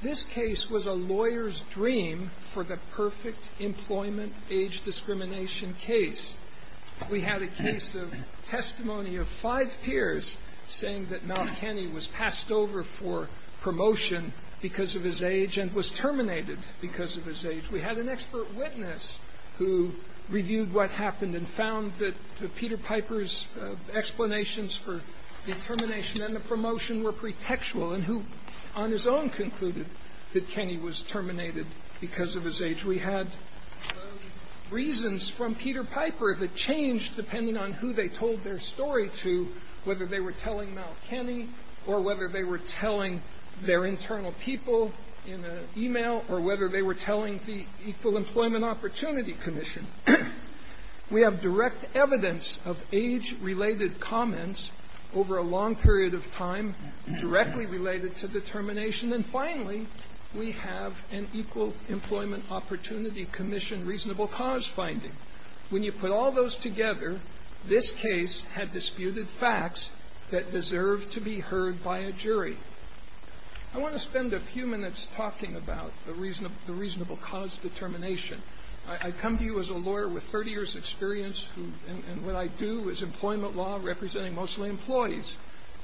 This case was a lawyer's dream for the perfect employment age discrimination case. We had a case of testimony of five peers saying that Malkenny was passed over for promotion because of his age and was terminated because of his age. We had an expert witness who reviewed what happened and found that Peter Piper's explanations for the termination and the promotion were pretextual and who on his own concluded that Kenny was terminated because of his age. We had reasons from Peter Piper that changed depending on who they told their story to, whether they were telling Malkenny or whether they were telling their internal people in an e-mail or whether they were telling the Equal Employment Opportunity Commission. We have direct evidence of age-related comments over a long period of time directly related to the termination. And finally, we have an Equal Employment Opportunity Commission reasonable-cause finding. When you put all those together, this case had disputed facts that deserve to be heard by a jury. I want to spend a few minutes talking about the reasonable cause determination. I come to you as a lawyer with 30 years' experience, and what I do is employment law, representing mostly employees.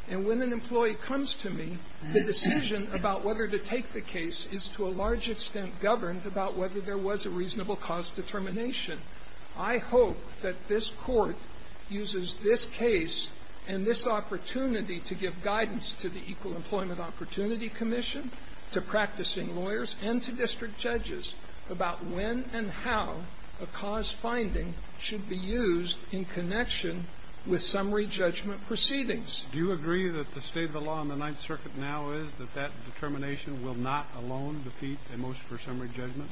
And when an employee comes to me, the decision about whether to take the case is to a large extent governed about whether there was a reasonable cause determination. I hope that this Court uses this case and this opportunity to give guidance to the Equal Employment Opportunity Commission, to practicing lawyers, and to district judges about when and how a cause finding should be used in connection with summary judgment proceedings. Do you agree that the state of the law in the Ninth Circuit now is that that determination will not alone defeat a motion for summary judgment?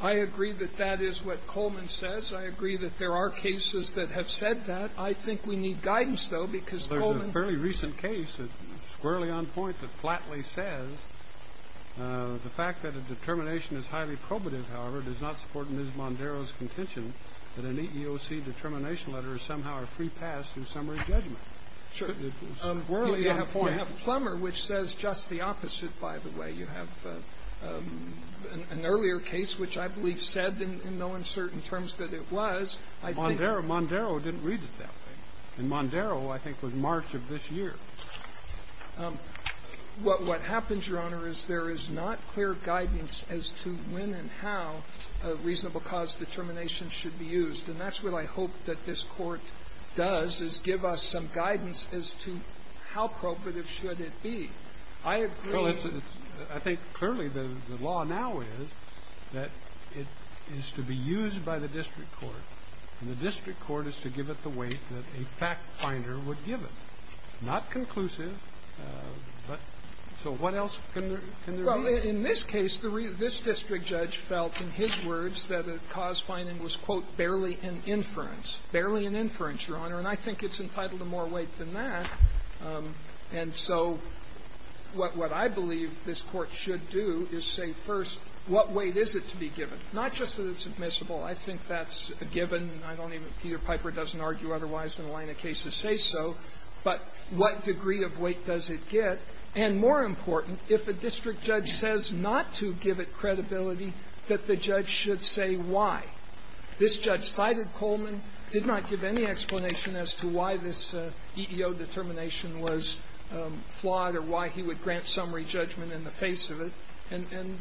I agree that that is what Coleman says. I agree that there are cases that have said that. I think we need guidance, though, because Coleman — Well, there's a fairly recent case that's squarely on point that flatly says the fact that a determination is highly probative, however, does not support Ms. Mondero's contention that an EEOC determination letter is somehow a free pass through summary judgment. Sure. It's squarely on point. You have Plummer, which says just the opposite, by the way. You have an earlier case which I believe said in no uncertain terms that it was. Mondero didn't read it that way. And Mondero, I think, was March of this year. What happens, Your Honor, is there is not clear guidance as to when and how a reasonable cause determination should be used. And that's what I hope that this Court does, is give us some guidance as to how probative should it be. I agree — Well, it's — I think, clearly, the law now is that it is to be used by the district court, and the district court is to give it the weight that a factfinder would give it, not conclusive, but — so what else can there be? Well, in this case, the — this district judge felt, in his words, that a cause finding was, quote, barely an inference, barely an inference, Your Honor, and I think it's entitled to more weight than that. And so what I believe this Court should do is say, first, what weight is it to be given? Not just that it's admissible. I think that's a given. I don't even — Peter Piper doesn't argue otherwise in a line of cases say so. But what degree of weight does it get? And more important, if a district judge says not to give it credibility, that the judge should say why. This judge cited Coleman, did not give any explanation as to why this EEO determination was flawed or why he would grant summary judgment in the face of it. And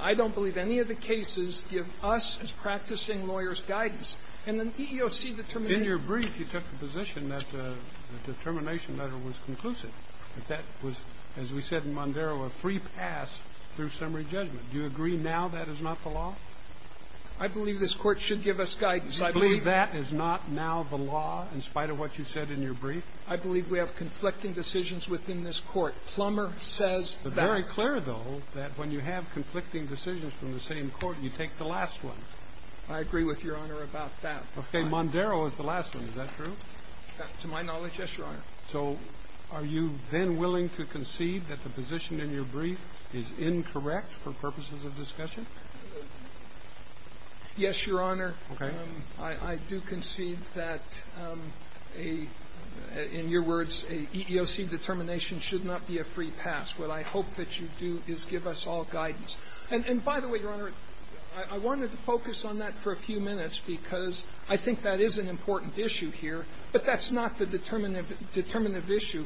I don't believe any of the cases give us, as practicing lawyers, guidance. And an EEOC determination — In your brief, you took the position that the determination letter was conclusive, that that was, as we said in Mondaro, a free pass through summary judgment. Do you agree now that is not the law? I believe this Court should give us guidance. I believe — Do you believe that is not now the law, in spite of what you said in your brief? I believe we have conflicting decisions within this Court. Plummer says that. It's very clear, though, that when you have conflicting decisions from the same Court, you take the last one. I agree with Your Honor about that. Okay. Mondaro is the last one. Is that true? To my knowledge, yes, Your Honor. So are you then willing to concede that the position in your brief is incorrect for purposes of discussion? Yes, Your Honor. Okay. I do concede that a — in your words, an EEOC determination should not be a free pass. What I hope that you do is give us all guidance. And by the way, Your Honor, I wanted to focus on that for a few minutes because I think that is an important issue here, but that's not the determinative issue,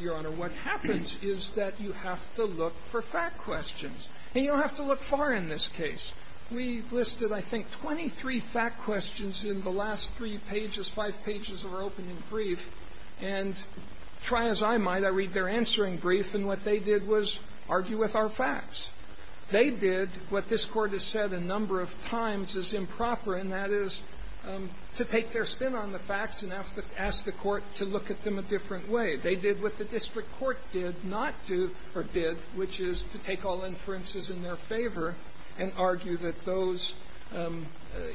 Your Honor. What happens is that you have to look for fact questions, and you don't have to look far in this case. We listed, I think, 23 fact questions in the last three pages, five pages of our opening brief, and try as I might, I read their answering brief, and what they did was argue with our facts. They did what this Court has said a number of times is improper, and that is to take their spin on the facts and ask the Court to look at them a different way. They did what the district court did not do, or did, which is to take all inferences in their favor and argue that those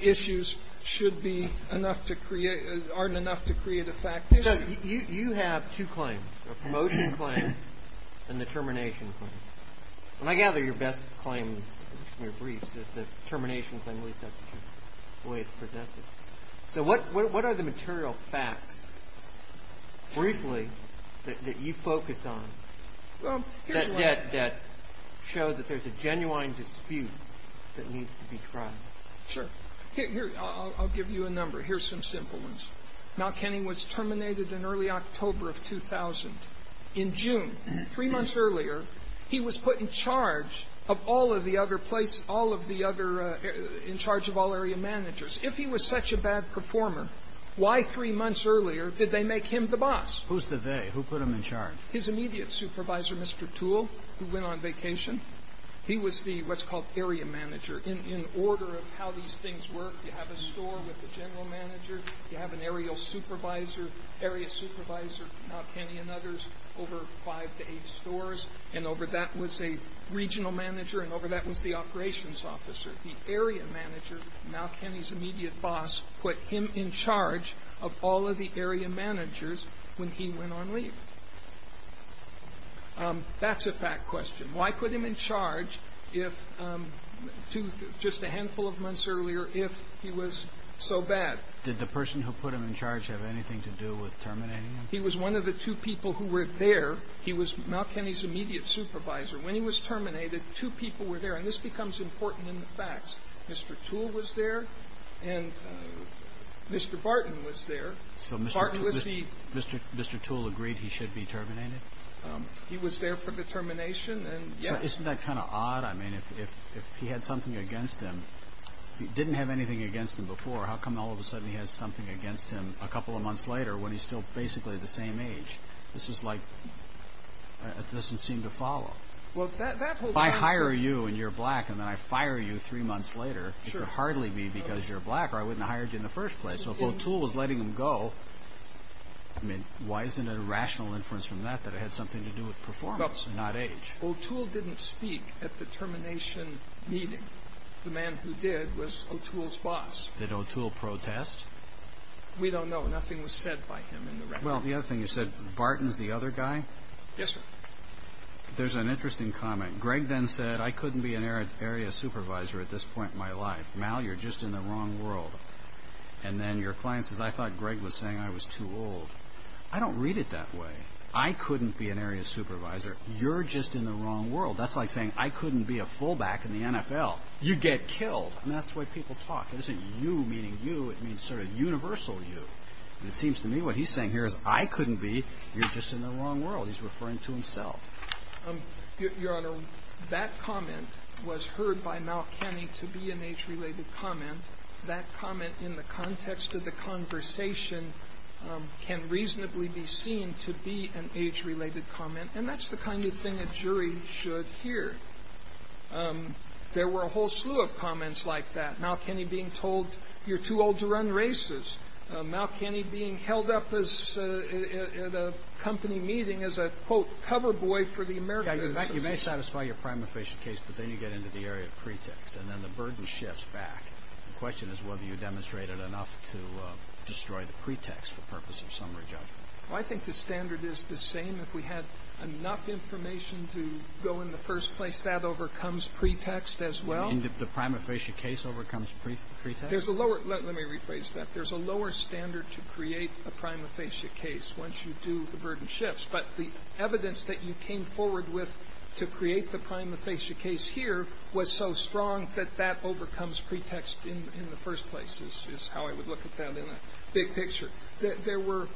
issues should be enough to create — aren't enough to create a fact issue. So you have two claims, a promotion claim and a termination claim. And I gather your best claim in your briefs is the termination claim, at least that's the way it's presented. So what are the material facts, briefly, that you focus on that show that there's a genuine dispute that needs to be tried? Sure. Here — I'll give you a number. Here's some simple ones. Mountkenny was terminated in early October of 2000. In June, three months earlier, he was put in charge of all of the other place — all of the other — in charge of all area managers. If he was such a bad performer, why three months earlier did they make him the boss? Who's the they? Who put him in charge? His immediate supervisor, Mr. Toole, who went on vacation. He was the — what's called area manager. In order of how these things work, you have a store with a general manager, you have an aerial supervisor, area supervisor, Mountkenny and others, over five to eight stores. And over that was a regional manager, and over that was the operations officer. The area manager, Mountkenny's immediate boss, put him in charge of all of the area managers when he went on leave. That's a fact question. Why put him in charge if — just a handful of months earlier, if he was so bad? Did the person who put him in charge have anything to do with terminating him? He was one of the two people who were there. He was Mountkenny's immediate supervisor. When he was terminated, two people were there. And this becomes important in the facts. Mr. Toole was there, and Mr. Barton was there. So Mr. Toole agreed he should be terminated? He was there for the termination, and — So isn't that kind of odd? I mean, if he had something against him — if he didn't have anything against him before, how come all of a sudden he has something against him a couple of months later when he's still basically the same age? This is like — this doesn't seem to follow. Well, that whole answer — If I hire you and you're black and then I fire you three months later, it could hardly be because you're black or I wouldn't have hired you in the first place. So if Toole was letting him go, I mean, why isn't it a rational inference from that that it had something to do with performance, not age? Well, Toole didn't speak at the termination meeting. The man who did was Toole's boss. Did Toole protest? We don't know. Nothing was said by him in the record. Well, the other thing you said, Barton's the other guy? Yes, sir. There's an interesting comment. Greg then said, I couldn't be an area supervisor at this point in my life. Mal, you're just in the wrong world. And then your client says, I thought Greg was saying I was too old. I don't read it that way. I couldn't be an area supervisor. You're just in the wrong world. That's like saying I couldn't be a fullback in the NFL. You get killed. And that's the way people talk. It isn't you meaning you. It means sort of universal you. And it seems to me what he's saying here is I couldn't be. You're just in the wrong world. He's referring to himself. Your Honor, that comment was heard by Mal Kenney to be an age-related comment. That comment in the context of the conversation can reasonably be seen to be an age-related comment. And that's the kind of thing a jury should hear. There were a whole slew of comments like that. Mal Kenney being told, you're too old to run races. Mal Kenney being held up at a company meeting as a, quote, cover boy for the American Association. You may satisfy your prima facie case, but then you get into the area of pretext. And then the burden shifts back. The question is whether you demonstrated enough to destroy the pretext for purpose of summary judgment. Well, I think the standard is the same. If we had enough information to go in the first place, that overcomes pretext as well. And if the prima facie case overcomes pretext? There's a lower, let me rephrase that. There's a lower standard to create a prima facie case once you do the burden shifts. But the evidence that you came forward with to create the prima facie case here was so strong that that overcomes pretext in the first place, is how I would look at that in a big picture. There were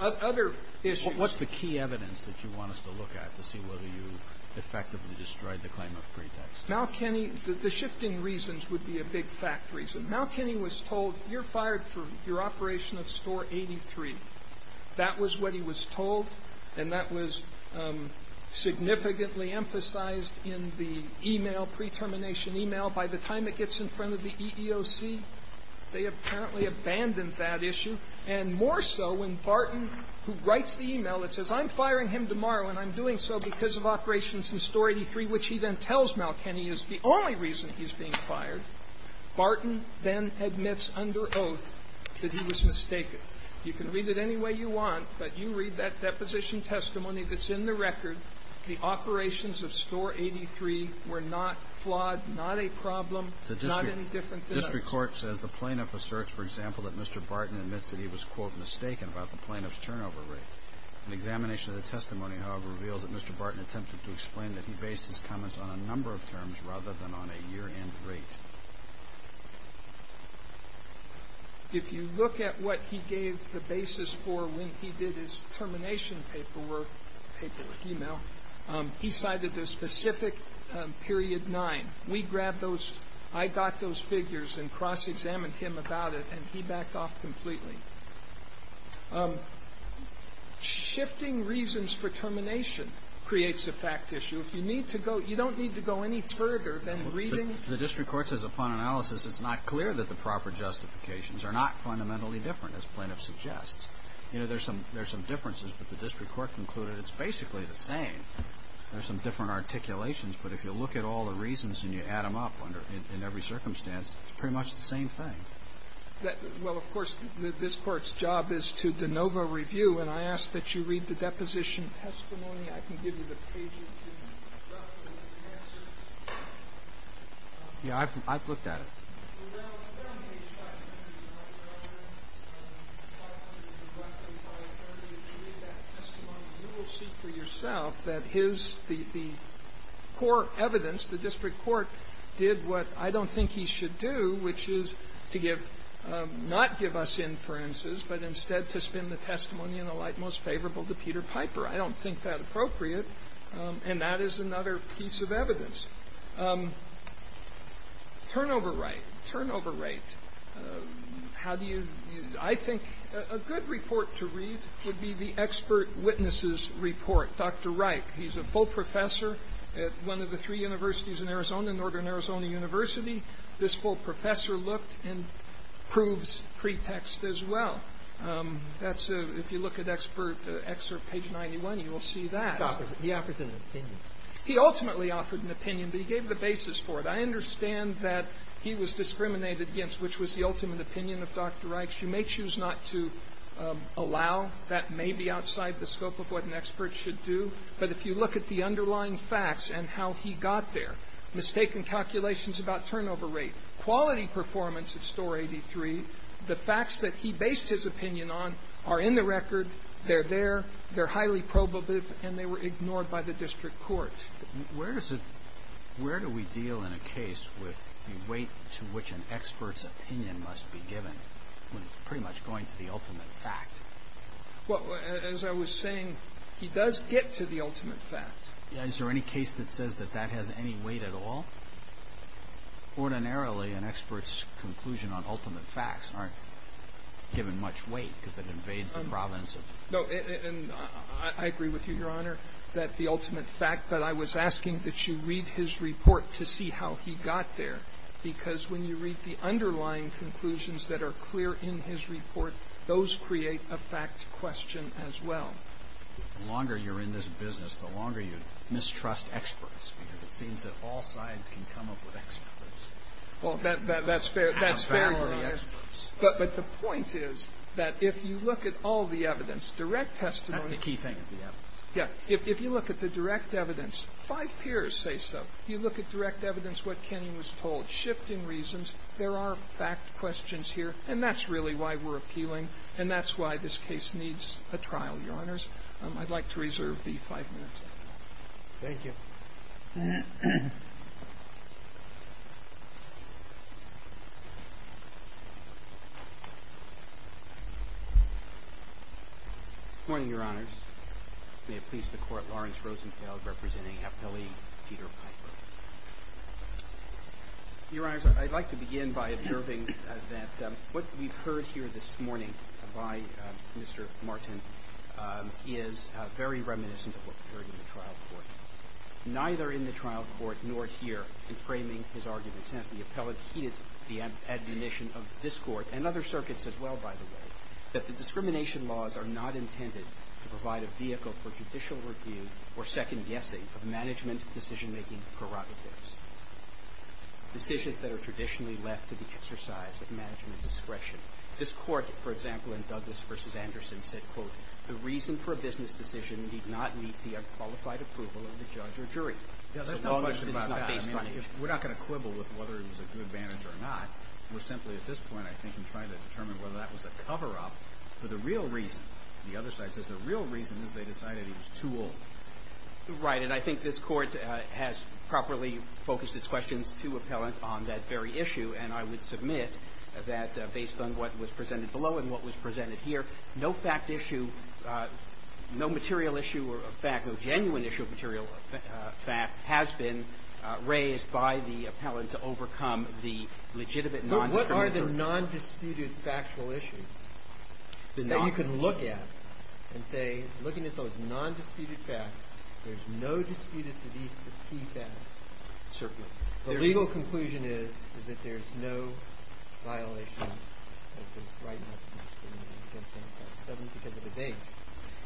other issues. What's the key evidence that you want us to look at to see whether you effectively destroyed the claim of pretext? Mal Kenney, the shifting reasons would be a big fact reason. Mal Kenney was told, you're fired for your operation of Store 83. That was what he was told, and that was significantly emphasized in the e-mail, pre-termination e-mail. By the time it gets in front of the EEOC, they apparently abandoned that issue. And more so when Barton, who writes the e-mail, it says, I'm firing him tomorrow, and I'm doing so because of operations in Store 83, which he then tells Mal Kenney is the only reason he's being fired. Barton then admits under oath that he was mistaken. You can read it any way you want, but you read that deposition testimony that's in the record. The operations of Store 83 were not flawed, not a problem, not any different than others. The district court says the plaintiff asserts, for example, that Mr. Barton admits that he was, quote, mistaken about the plaintiff's turnover rate. An examination of the testimony, however, reveals that Mr. Barton attempted to explain that he based his comments on a number of terms rather than on a year-end rate. If you look at what he gave the basis for when he did his termination paperwork e-mail, he cited a specific period 9. We grabbed those. I got those figures and cross-examined him about it, and he backed off completely. Shifting reasons for termination creates a fact issue. If you need to go, you don't need to go any further than reading the district court. The district court says, upon analysis, it's not clear that the proper justifications are not fundamentally different, as the plaintiff suggests. You know, there's some differences, but the district court concluded it's basically the same. There's some different articulations, but if you look at all the reasons and you add them up under every circumstance, it's pretty much the same thing. Well, of course, this Court's job is to de novo review, and I ask that you read the deposition testimony. I can give you the pages and the document and the answers. Yeah, I've looked at it. You will see for yourself that his core evidence, the district court did what I don't think he should do, which is to give not give us inferences, but instead to spin the testimony in the light most favorable to Peter Piper. I don't think that appropriate. And that is another piece of evidence. Turnover rate. Turnover rate. How do you do it? I think a good report to read would be the expert witnesses report. Dr. Reich, he's a full professor at one of the three universities in Arizona, Northern Arizona University. This full professor looked and proves pretext as well. That's a ‑‑ if you look at expert excerpt page 91, you will see that. He offered an opinion. He ultimately offered an opinion, but he gave the basis for it. I understand that he was discriminated against, which was the ultimate opinion of Dr. Reich. You may choose not to allow. That may be outside the scope of what an expert should do. But if you look at the underlying facts and how he got there, mistaken calculations about turnover rate, quality performance at Store 83, the facts that he based his opinion on are in the record, they're there, they're highly probative, and they were ignored by the district court. Where is it ‑‑ where do we deal in a case with the weight to which an expert's opinion must be given when it's pretty much going to the ultimate fact? Well, as I was saying, he does get to the ultimate fact. Is there any case that says that that has any weight at all? Ordinarily, an expert's conclusion on ultimate facts aren't given much weight because it invades the province of ‑‑ No. And I agree with you, Your Honor, that the ultimate fact, but I was asking that you read his report to see how he got there, because when you read the underlying conclusions that are clear in his report, those create a fact question as well. The longer you're in this business, the longer you mistrust experts because it seems that all sides can come up with experts. Well, that's fair. That's fair, Your Honor. But the point is that if you look at all the evidence, direct testimony ‑‑ That's the key thing is the evidence. Yeah. If you look at the direct evidence, five peers say so. You look at direct evidence, what Kenny was told, shifting reasons, there are fact questions here, and that's really why we're appealing, and that's why this case needs a trial, Your Honors. I'd like to reserve the five minutes. Thank you. Good morning, Your Honors. May it please the Court, Lawrence Rosenfeld representing Appellee Peter Piper. Your Honors, I'd like to begin by observing that what we've heard here this morning by Mr. Martin is very reminiscent of what we heard in the trial court. Neither in the trial court nor here in framing his argument, since the appellate admonition of this Court and other circuits as well, by the way, that the discrimination laws are not intended to provide a vehicle for judicial review or second guessing of management decision‑making prerogatives, decisions that are traditionally left to the exercise of management discretion. This Court, for example, in Douglas v. Anderson said, quote, the reason for a business decision need not meet the unqualified approval of the judge or jury. Yeah, there's no question about that. As long as it is not based on age. We're not going to quibble with whether it was a good advantage or not. We're simply at this point, I think, in trying to determine whether that was a coverup for the real reason. The other side says the real reason is they decided he was too old. Right, and I think this Court has properly focused its questions to appellant on that very issue. And I would submit that based on what was presented below and what was presented here, no fact issue, no material issue of fact, no genuine issue of material fact has been raised by the appellant to overcome the legitimate non‑discriminatory What are the non‑disputed factual issues that you can look at and say, looking at those non‑disputed facts, there's no dispute as to these key facts. Certainly. The legal conclusion is that there's no violation of the right not to discriminate against any facts, certainly because of his age.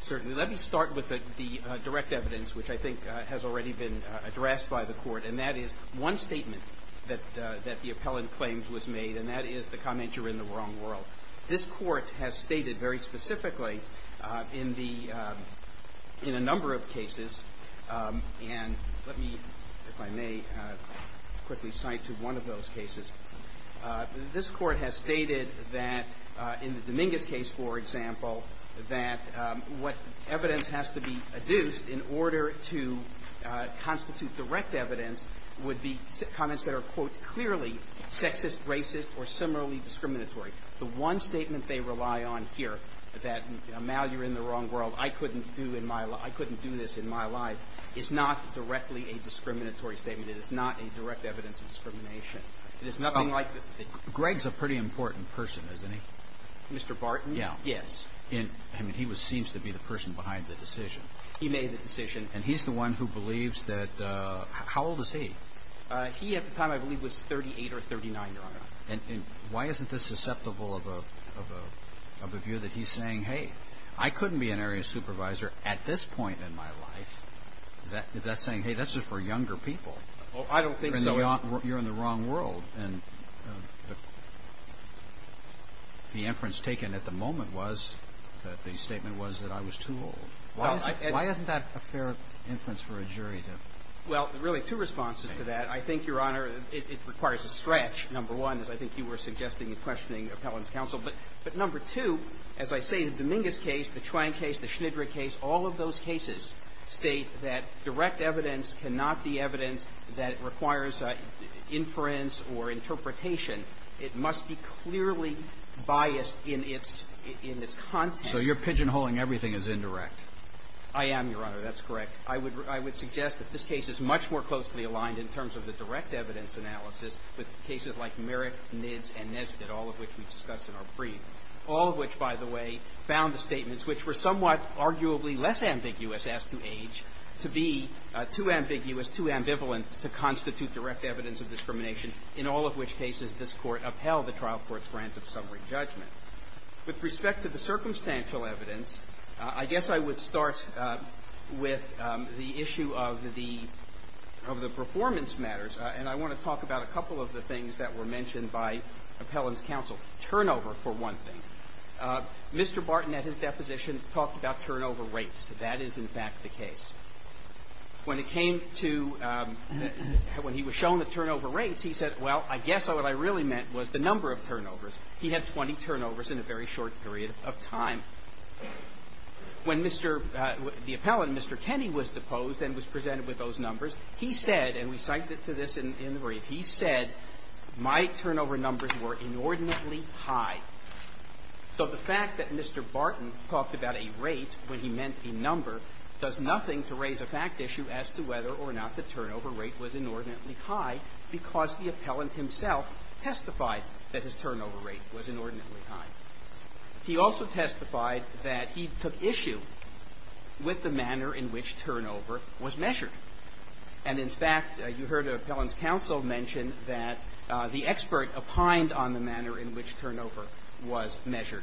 Certainly. Let me start with the direct evidence, which I think has already been addressed by the Court, and that is one statement that the appellant claims was made, and that is the comment you're in the wrong world. This Court has stated very specifically in the ‑‑ in a number of cases, and let me, if I may, quickly cite to one of those cases. This Court has stated that in the Dominguez case, for example, that what evidence has to be adduced in order to constitute direct evidence would be comments that are, quote, clearly sexist, racist, or similarly discriminatory. The one statement they rely on here, that now you're in the wrong world, I couldn't do this in my life, is not directly a discriminatory statement. It is not a direct evidence of discrimination. It is nothing like the ‑‑ Greg's a pretty important person, isn't he? Mr. Barton? Yes. I mean, he seems to be the person behind the decision. He made the decision. And he's the one who believes that ‑‑ how old is he? He, at the time, I believe, was 38 or 39, Your Honor. And why isn't this susceptible of a view that he's saying, hey, I couldn't be an area supervisor at this point in my life. Is that saying, hey, that's just for younger people? I don't think so. You're in the wrong world. And the inference taken at the moment was that the statement was that I was too old. Why isn't that a fair inference for a jury to ‑‑ Well, really, two responses to that. I think, Your Honor, it requires a stretch, number one, as I think you were suggesting in questioning Appellant's counsel. But number two, as I say, the Dominguez case, the Twain case, the Schnidreich case, all of those cases state that direct evidence cannot be evidence that requires inference or interpretation. It must be clearly biased in its content. So you're pigeonholing everything as indirect. I am, Your Honor. That's correct. I would suggest that this case is much more closely aligned in terms of the direct evidence analysis with cases like Merrick, Nids, and Nesbitt, all of which we discuss in our brief, all of which, by the way, found the statements, which were somewhat arguably less ambiguous as to age, to be too ambiguous, too ambivalent to constitute direct evidence of discrimination, in all of which cases this Court upheld the trial court's grant of summary judgment. With respect to the circumstantial evidence, I guess I would start with the issue of the performance matters, and I want to talk about a couple of the things that were mentioned by Appellant's counsel. Turnover, for one thing. Mr. Barton, at his deposition, talked about turnover rates. That is, in fact, the case. When it came to – when he was shown the turnover rates, he said, well, I guess what I really meant was the number of turnovers. He had 20 turnovers in a very short period of time. When Mr. – the Appellant, Mr. Kenney, was deposed and was presented with those numbers, he said – and we cited to this in the brief – he said, my turnover numbers were inordinately high. So the fact that Mr. Barton talked about a rate when he meant a number does nothing to raise a fact issue as to whether or not the turnover rate was inordinately high because the Appellant himself testified that his turnover rate was inordinately high. He also testified that he took issue with the manner in which turnover was measured. And, in fact, you heard Appellant's counsel mention that the expert opined on the manner in which turnover was measured.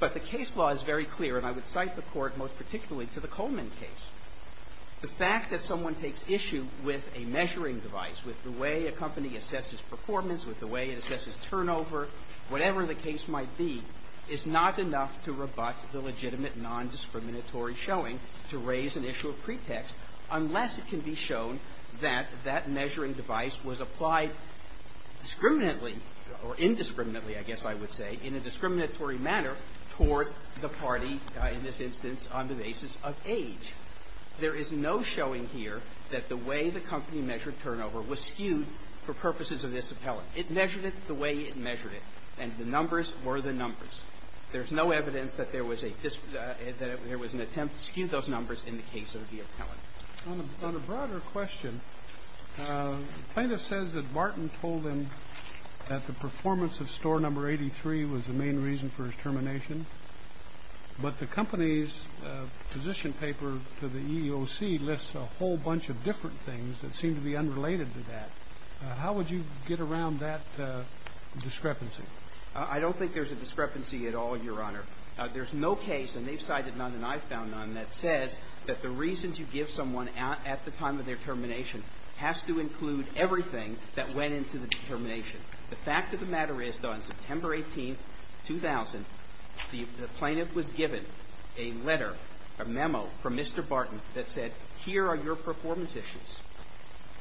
But the case law is very clear, and I would cite the Court most particularly to the Coleman case. The fact that someone takes issue with a measuring device, with the way a company assesses performance, with the way it assesses turnover, whatever the case might be, is not enough to rebut the legitimate nondiscriminatory showing to raise an issue of pretext unless it can be shown that that measuring device was applied discriminantly or indiscriminately, I guess I would say, in a discriminatory manner toward the party, in this instance, on the basis of age. There is no showing here that the way the company measured turnover was skewed for purposes of this Appellant. It measured it the way it measured it, and the numbers were the numbers. There's no evidence that there was a dis — that there was an attempt to skew those numbers in the case of the Appellant. On a broader question, plaintiff says that Martin told them that the performance of Store No. 83 was the main reason for his termination, but the company's position paper to the EEOC lists a whole bunch of different things that seem to be unrelated to that. How would you get around that discrepancy? I don't think there's a discrepancy at all, Your Honor. There's no case, and they've cited none and I've found none, that says that the reasons you give someone at the time of their termination has to include everything that went into the determination. The fact of the matter is that on September 18, 2000, the plaintiff was given a letter, a memo, from Mr. Barton that said, here are your performance issues.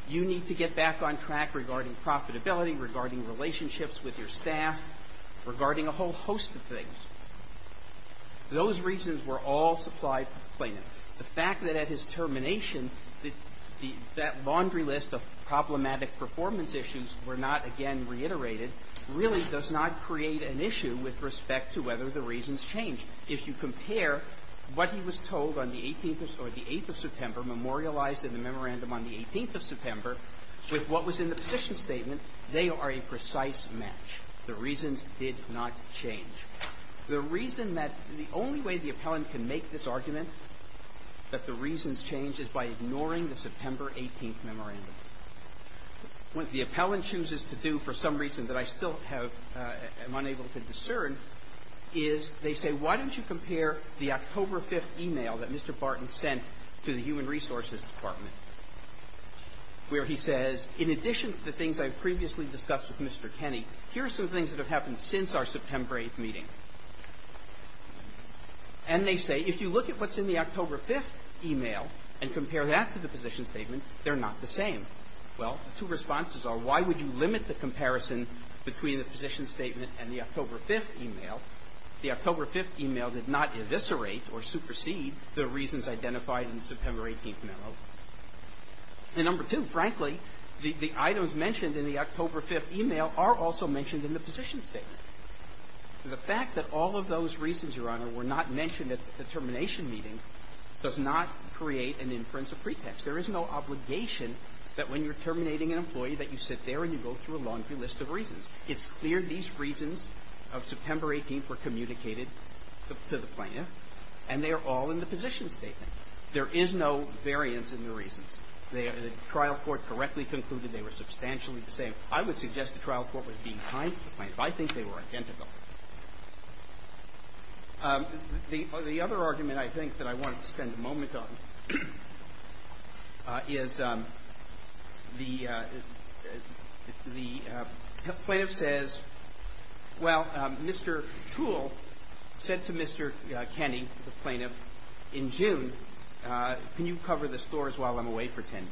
You need to get back on track regarding profitability, regarding relationships with your staff, regarding a whole host of things. Those reasons were all supplied to the plaintiff. The fact that at his termination, that laundry list of problematic performance issues were not again reiterated really does not create an issue with respect to whether the reasons change. If you compare what he was told on the 18th or the 8th of September, memorialized in the memorandum on the 18th of September, with what was in the position statement, they are a precise match. The reasons did not change. The reason that the only way the appellant can make this argument that the reasons change is by ignoring the September 18th memorandum. What the appellant chooses to do, for some reason that I still have, am unable to discern, is they say, why don't you compare the October 5th email that Mr. Barton sent to the Human Resources Department, where he says, in addition to the things I've previously discussed with Mr. Kenney, here are some things that have happened since our September 8th meeting. And they say, if you look at what's in the October 5th email and compare that to the position statement, they're not the same. Well, the two responses are, why would you limit the comparison between the position statement and the October 5th email? The October 5th email did not eviscerate or supersede the reasons identified in the September 18th memo. And number two, frankly, the items mentioned in the October 5th email are also mentioned in the position statement. The fact that all of those reasons, Your Honor, were not mentioned at the termination meeting does not create an inference of pretext. There is no obligation that when you're terminating an employee that you sit there and you go through a laundry list of reasons. It's clear these reasons of September 18th were communicated to the plaintiff, and they are all in the position statement. There is no variance in the reasons. The trial court correctly concluded they were substantially the same. I would suggest the trial court was being kind to the plaintiff. I think they were identical. The other argument, I think, that I wanted to spend a moment on is the plaintiff says, well, Mr. Toole said to Mr. Kenney, the plaintiff, in June, can you cover the stores while I'm away for 10 days?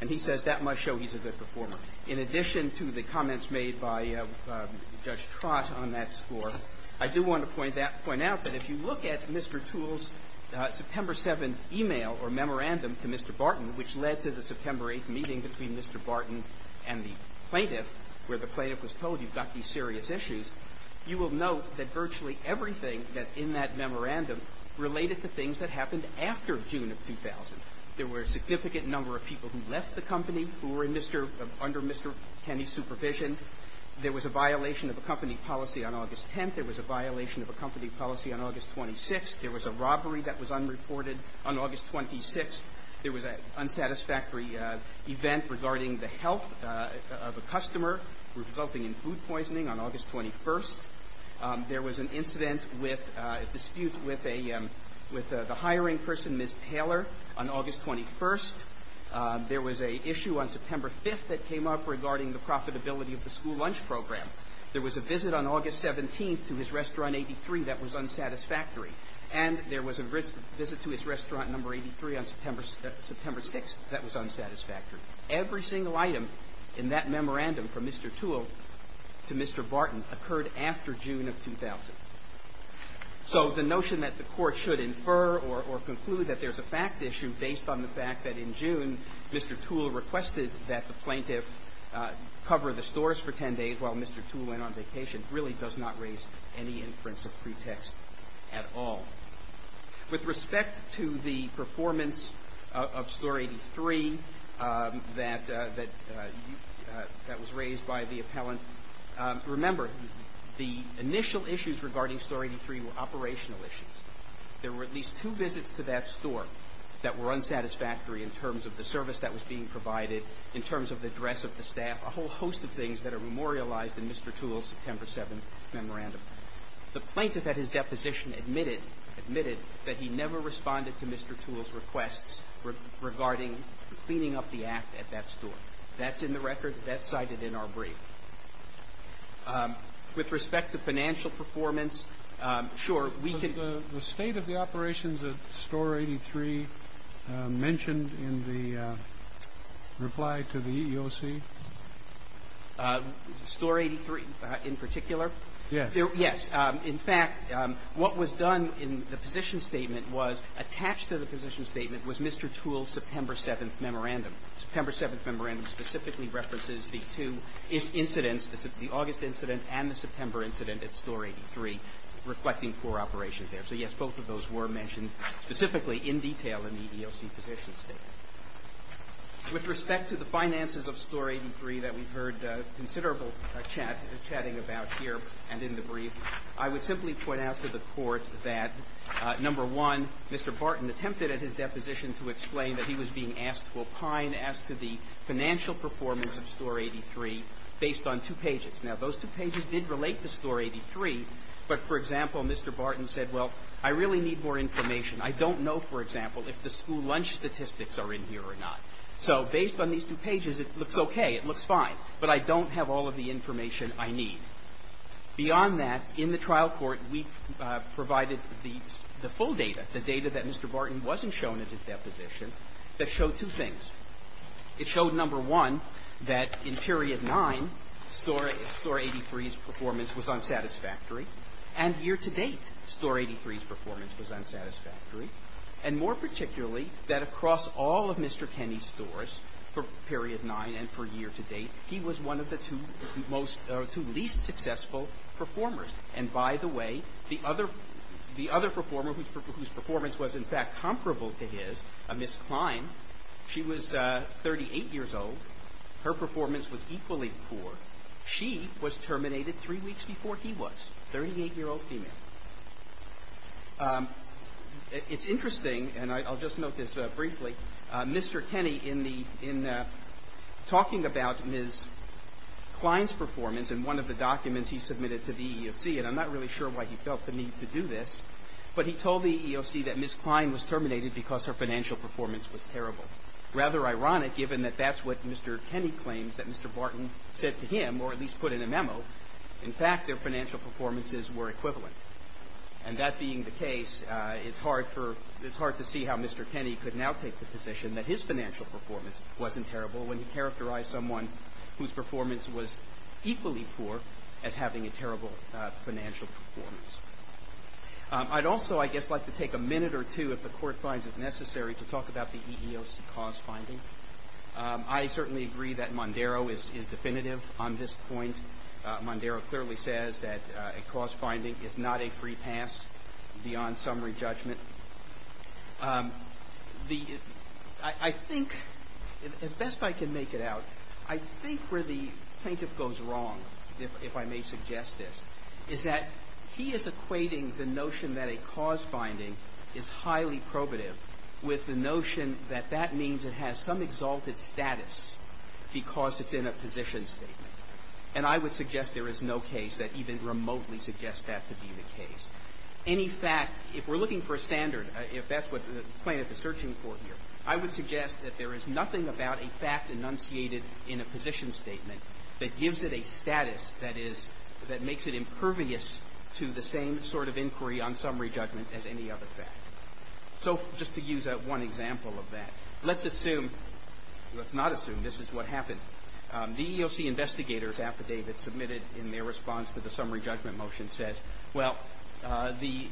And he says that must show he's a good performer. In addition to the comments made by Judge Trott on that score, I do want to point out that if you look at Mr. Toole's September 7th email or memorandum to Mr. Barton, which led to the September 8th meeting between Mr. Barton and the plaintiff where the plaintiff was told you've got these serious issues, you will note that virtually everything that's in that memorandum related to things that happened after June of 2000. There were a significant number of people who left the company who were under Mr. Kenney's supervision. There was a violation of a company policy on August 10th. There was a violation of a company policy on August 26th. There was a robbery that was unreported on August 26th. There was an unsatisfactory event regarding the health of a customer resulting in food poisoning on August 21st. There was an incident with a dispute with a hiring person, Ms. Taylor, on August 21st. There was an issue on September 5th that came up regarding the profitability of the school lunch program. There was a visit on August 17th to his restaurant 83 that was unsatisfactory. And there was a visit to his restaurant number 83 on September 6th that was unsatisfactory. Every single item in that memorandum from Mr. Toole to Mr. Barton occurred after June of 2000. So the notion that the Court should infer or conclude that there's a fact issue based on the fact that in June Mr. Toole requested that the plaintiff cover the stores for 10 days while Mr. Toole went on vacation really does not raise any inference or pretext at all. With respect to the performance of Store 83 that was raised by the appellant, remember the initial issues regarding Store 83 were operational issues. There were at least two visits to that store that were unsatisfactory in terms of the service that was being provided, in terms of the dress of the staff, a whole host of things that are memorialized in Mr. Toole's September 7th memorandum. The plaintiff at his deposition admitted that he never responded to Mr. Toole's requests regarding cleaning up the app at that store. That's in the record. That's cited in our brief. With respect to financial performance, sure, we can – Was the state of the operations at Store 83 mentioned in the reply to the EEOC? Store 83 in particular? Yes. Yes. In fact, what was done in the position statement was attached to the position statement was Mr. Toole's September 7th memorandum. The September 7th memorandum specifically references the two incidents, the August incident and the September incident at Store 83, reflecting poor operations there. So, yes, both of those were mentioned specifically in detail in the EEOC position statement. With respect to the finances of Store 83 that we've heard considerable chatting about here and in the brief, I would simply point out to the Court that, number one, Mr. Barton attempted at his deposition to explain that he was being asked to opine as to the financial performance of Store 83 based on two pages. Now, those two pages did relate to Store 83. But, for example, Mr. Barton said, well, I really need more information. I don't know, for example, if the school lunch statistics are in here or not. So based on these two pages, it looks okay, it looks fine. But I don't have all of the information I need. Beyond that, in the trial court, we provided the full data, the data that Mr. Barton wasn't shown at his deposition, that showed two things. It showed, number one, that in Period 9, Store 83's performance was unsatisfactory, and year-to-date Store 83's performance was unsatisfactory, and more particularly that across all of Mr. Kenney's stores for Period 9 and for year-to-date, he was one of the two most or two least successful performers. And, by the way, the other performer whose performance was, in fact, comparable to his, Ms. Klein, she was 38 years old. Her performance was equally poor. She was terminated three weeks before he was, a 38-year-old female. It's interesting, and I'll just note this briefly. Mr. Kenney, in talking about Ms. Klein's performance in one of the documents he submitted to the EEOC, and I'm not really sure why he felt the need to do this, but he told the EEOC that Ms. Klein was terminated because her financial performance was terrible. Rather ironic, given that that's what Mr. Kenney claims that Mr. Barton said to him, or at least put in a memo. In fact, their financial performances were equivalent. And that being the case, it's hard to see how Mr. Kenney could now take the position that his financial performance wasn't terrible when he characterized someone whose performance was equally poor as having a terrible financial performance. I'd also, I guess, like to take a minute or two, if the Court finds it necessary, to talk about the EEOC cause finding. I certainly agree that Mondaro is definitive on this point. Mondaro clearly says that a cause finding is not a free pass beyond summary judgment. I think, as best I can make it out, I think where the plaintiff goes wrong, if I may suggest this, is that he is equating the notion that a cause finding is highly probative with the notion that that means it has some exalted status because it's in a position statement. And I would suggest there is no case that even remotely suggests that to be the case. Any fact, if we're looking for a standard, if that's what the plaintiff is searching for here, I would suggest that there is nothing about a fact enunciated in a position statement that gives it a status that is, that makes it impervious to the same sort of inquiry on summary judgment as any other fact. So just to use one example of that, let's assume, let's not assume this is what happened. The EEOC investigators affidavit submitted in their response to the summary judgment motion says, well, the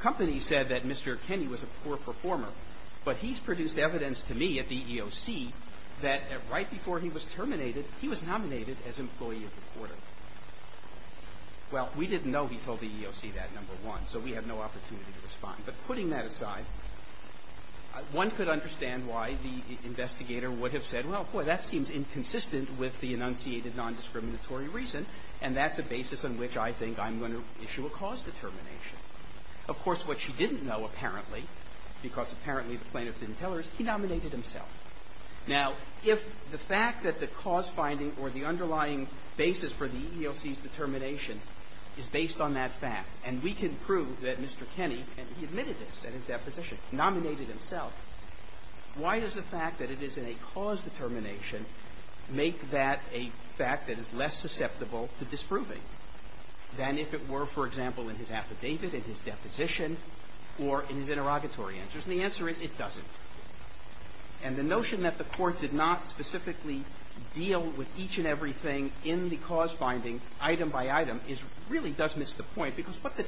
company said that Mr. Kenney was a poor performer, but he's produced evidence to me at the EEOC that right before he was terminated, he was nominated as employee of the quarter. Well, we didn't know he told the EEOC that, number one, so we had no opportunity to respond. But putting that aside, one could understand why the investigator would have said, well, boy, that seems inconsistent with the enunciated nondiscriminatory reason, and that's a basis on which I think I'm going to issue a cause determination. Of course, what she didn't know, apparently, because apparently the plaintiff didn't tell her, is he nominated himself. Now, if the fact that the cause finding or the underlying basis for the EEOC's determination is based on that fact, and we can prove that Mr. Kenney, and he admitted this at his deposition, nominated himself, why does the fact that it is in a cause determination make that a fact that is less susceptible to disproving than if it were, for example, in his affidavit, in his deposition, or in his interrogatory answers? And the answer is, it doesn't. And the notion that the Court did not specifically deal with each and everything in the cause finding, item by item, is really does miss the point, because what the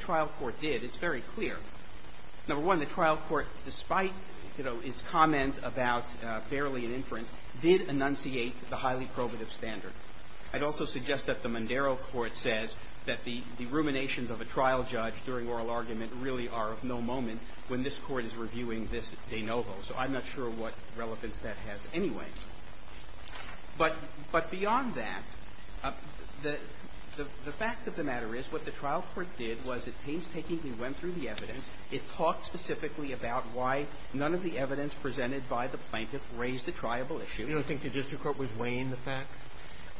Number one, the trial court, despite its comment about barely an inference, did enunciate the highly probative standard. I'd also suggest that the Mondero Court says that the ruminations of a trial judge during oral argument really are of no moment when this Court is reviewing this de novo. So I'm not sure what relevance that has anyway. But beyond that, the fact of the matter is what the trial court did was it painstakingly went through the evidence. It talked specifically about why none of the evidence presented by the plaintiff raised a triable issue. You don't think the district court was weighing the facts?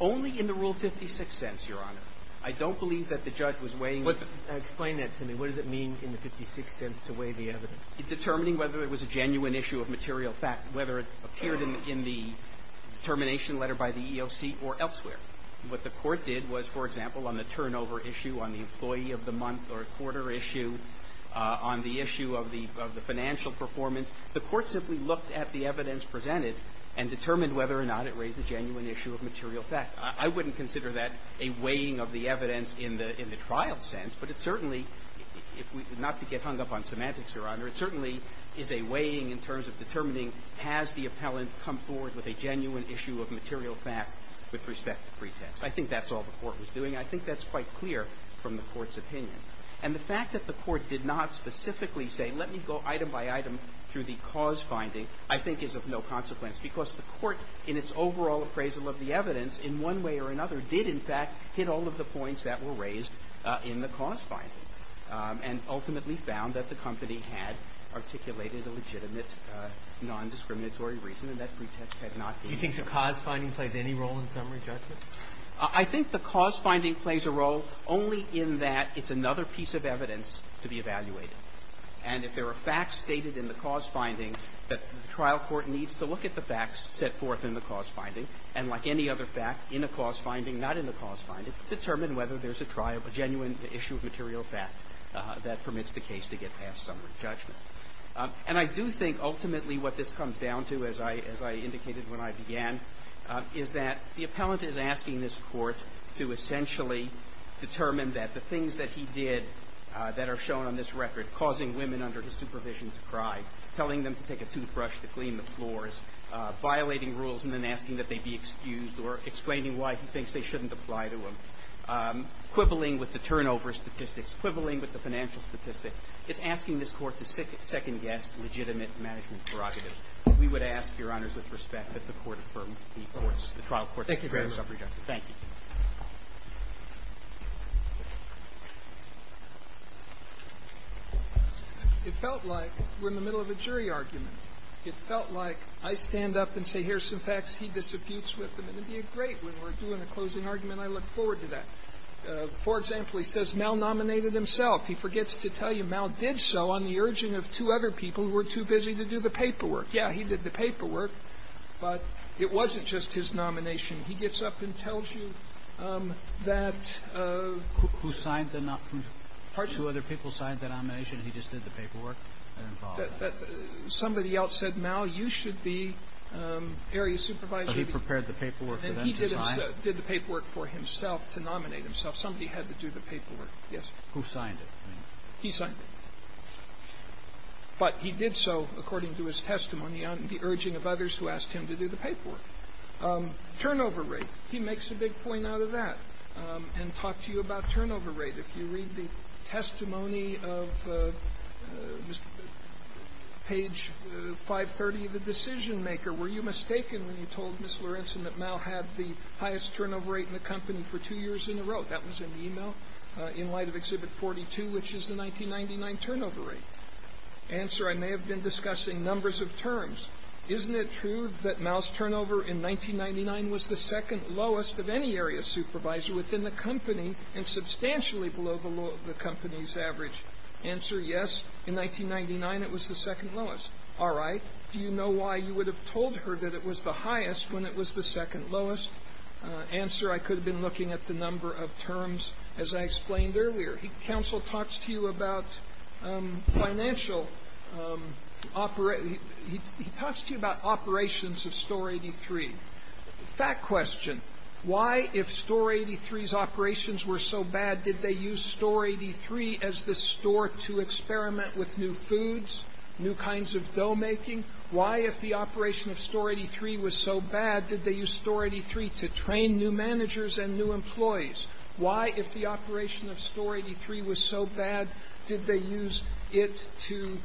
Only in the Rule 56 sense, Your Honor. I don't believe that the judge was weighing the facts. Explain that to me. What does it mean in the 56 sense to weigh the evidence? Determining whether it was a genuine issue of material fact, whether it appeared in the determination letter by the EEOC or elsewhere. What the Court did was, for issue of the financial performance, the Court simply looked at the evidence presented and determined whether or not it raised a genuine issue of material fact. I wouldn't consider that a weighing of the evidence in the trial sense. But it certainly, not to get hung up on semantics, Your Honor, it certainly is a weighing in terms of determining has the appellant come forward with a genuine issue of material fact with respect to pretext. I think that's all the Court was doing. I think that's quite clear from the Court's opinion. And the fact that the Court did not specifically say, let me go item by item through the cause finding, I think is of no consequence. Because the Court, in its overall appraisal of the evidence, in one way or another, did, in fact, hit all of the points that were raised in the cause finding and ultimately found that the company had articulated a legitimate nondiscriminatory reason and that pretext had not been used. Do you think the cause finding plays any role in summary judgment? I think the cause finding plays a role only in that it's another piece of evidence to be evaluated. And if there are facts stated in the cause finding, the trial court needs to look at the facts set forth in the cause finding and, like any other fact, in a cause finding, not in the cause finding, determine whether there's a trial, a genuine issue of material fact that permits the case to get past summary judgment. And I do think ultimately what this comes down to, as I indicated when I began, is that the appellant is asking this Court to essentially determine that the things that he did that are shown on this record, causing women under his supervision to cry, telling them to take a toothbrush to clean the floors, violating rules and then asking that they be excused or explaining why he thinks they shouldn't apply to him, quibbling with the turnover statistics, quibbling with the financial impact of the trial court's summary judgment. Thank you. It felt like we're in the middle of a jury argument. It felt like I stand up and say here's some facts, he disputes with them. And it would be a great win. We're doing a closing argument. I look forward to that. For example, he says Mal nominated himself. He forgets to tell you Mal did so on the urging of two other people who were too busy to do the paperwork. Yeah, he did the paperwork. But it wasn't just his nomination. He gets up and tells you that ---- Who signed the nomination? Pardon? Two other people signed the nomination and he just did the paperwork? Somebody else said, Mal, you should be area supervisor. So he prepared the paperwork for them to sign? And he did the paperwork for himself to nominate himself. Somebody had to do the paperwork. Yes. Who signed it? He signed it. But he did so, according to his testimony, on the urging of others who asked him to do the paperwork. Turnover rate. He makes a big point out of that and talked to you about turnover rate. If you read the testimony of page 530 of the decisionmaker, were you mistaken when you told Ms. Lorenzen that Mal had the highest turnover rate in the company for two years in a row? That was in the e-mail in light of Exhibit 42, which is the 1999 turnover rate. Answer, I may have been discussing numbers of terms. Isn't it true that Mal's turnover in 1999 was the second lowest of any area supervisor within the company and substantially below the company's average? Answer, yes. In 1999, it was the second lowest. All right. Do you know why you would have told her that it was the highest when it was the second lowest? Answer, I could have been looking at the number of terms, as I explained earlier. Counsel talks to you about financial operations. He talks to you about operations of Store 83. Fact question, why, if Store 83's operations were so bad, did they use Store 83 as the store to experiment with new foods, new kinds of dough making? Why, if the operation of Store 83 was so bad, did they use Store 83 to train new managers and new employees? Why, if the operation of Store 83 was so bad, did they use it to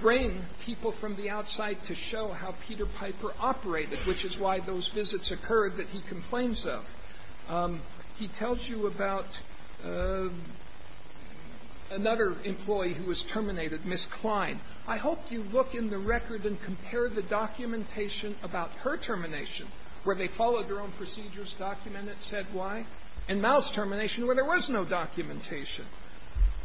bring people from the outside to show how Peter Piper operated, which is why those visits occurred that he complains of? He tells you about another employee who was terminated, Miss Klein. I hope you look in the record and compare the documentation about her termination, where they followed their own procedures, documented, said why, and Mal's termination, where there was no documentation.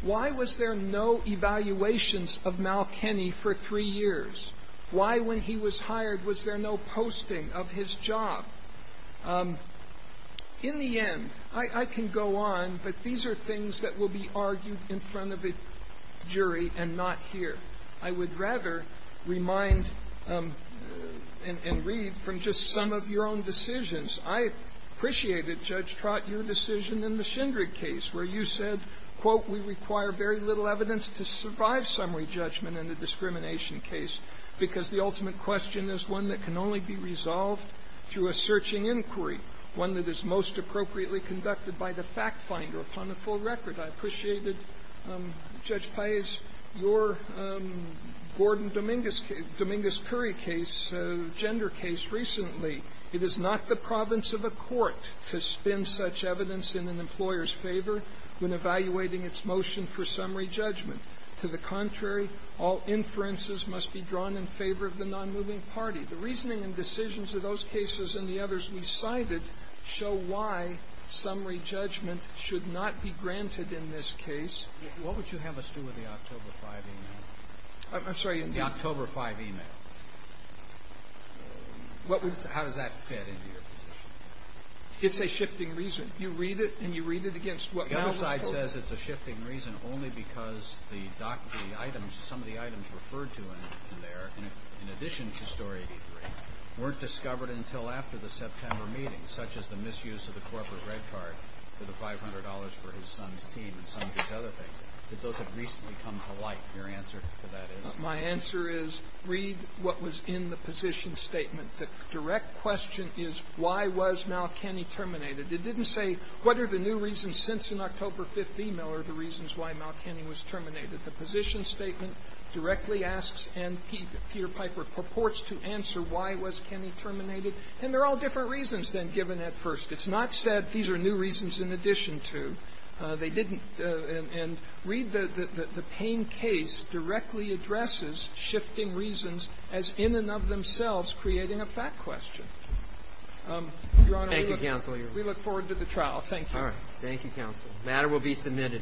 Why was there no evaluations of Mal Kenny for three years? Why, when he was hired, was there no posting of his job? In the end, I can go on, but these are things that will be argued in front of a jury and not here. I would rather remind and read from just some of your own decisions. I appreciated, Judge Trott, your decision in the Schindrig case where you said, quote, we require very little evidence to survive summary judgment in the discrimination case because the ultimate question is one that can only be resolved through a searching inquiry, one that is most appropriately conducted by the fact finder upon a full record. I appreciated, Judge Paius, your Gordon Dominguez-Curry case, gender case, recently. It is not the province of the court to spin such evidence in an employer's favor when evaluating its motion for summary judgment. To the contrary, all inferences must be drawn in favor of the nonmoving party. The reasoning and decisions of those cases and the others we cited show why summary judgment should not be granted in this case. What would you have us do with the October 5th e-mail? I'm sorry. The October 5th e-mail. How does that fit into your position? It's a shifting reason. You read it and you read it against what was before. The other side says it's a shifting reason only because the items, some of the items referred to in there, in addition to Story 83, weren't discovered until after the $500 for his son's team and some of these other things. Did those have recently come to light? Your answer to that is? My answer is read what was in the position statement. The direct question is why was Malkenny terminated? It didn't say what are the new reasons since an October 5th e-mail are the reasons why Malkenny was terminated. The position statement directly asks and Peter Piper purports to answer why was Kenney terminated. And they're all different reasons than given at first. It's not said these are new reasons in addition to. They didn't. And read the Payne case directly addresses shifting reasons as in and of themselves creating a fact question. Your Honor, we look forward to the trial. Thank you. All right. Thank you, counsel. The matter will be submitted.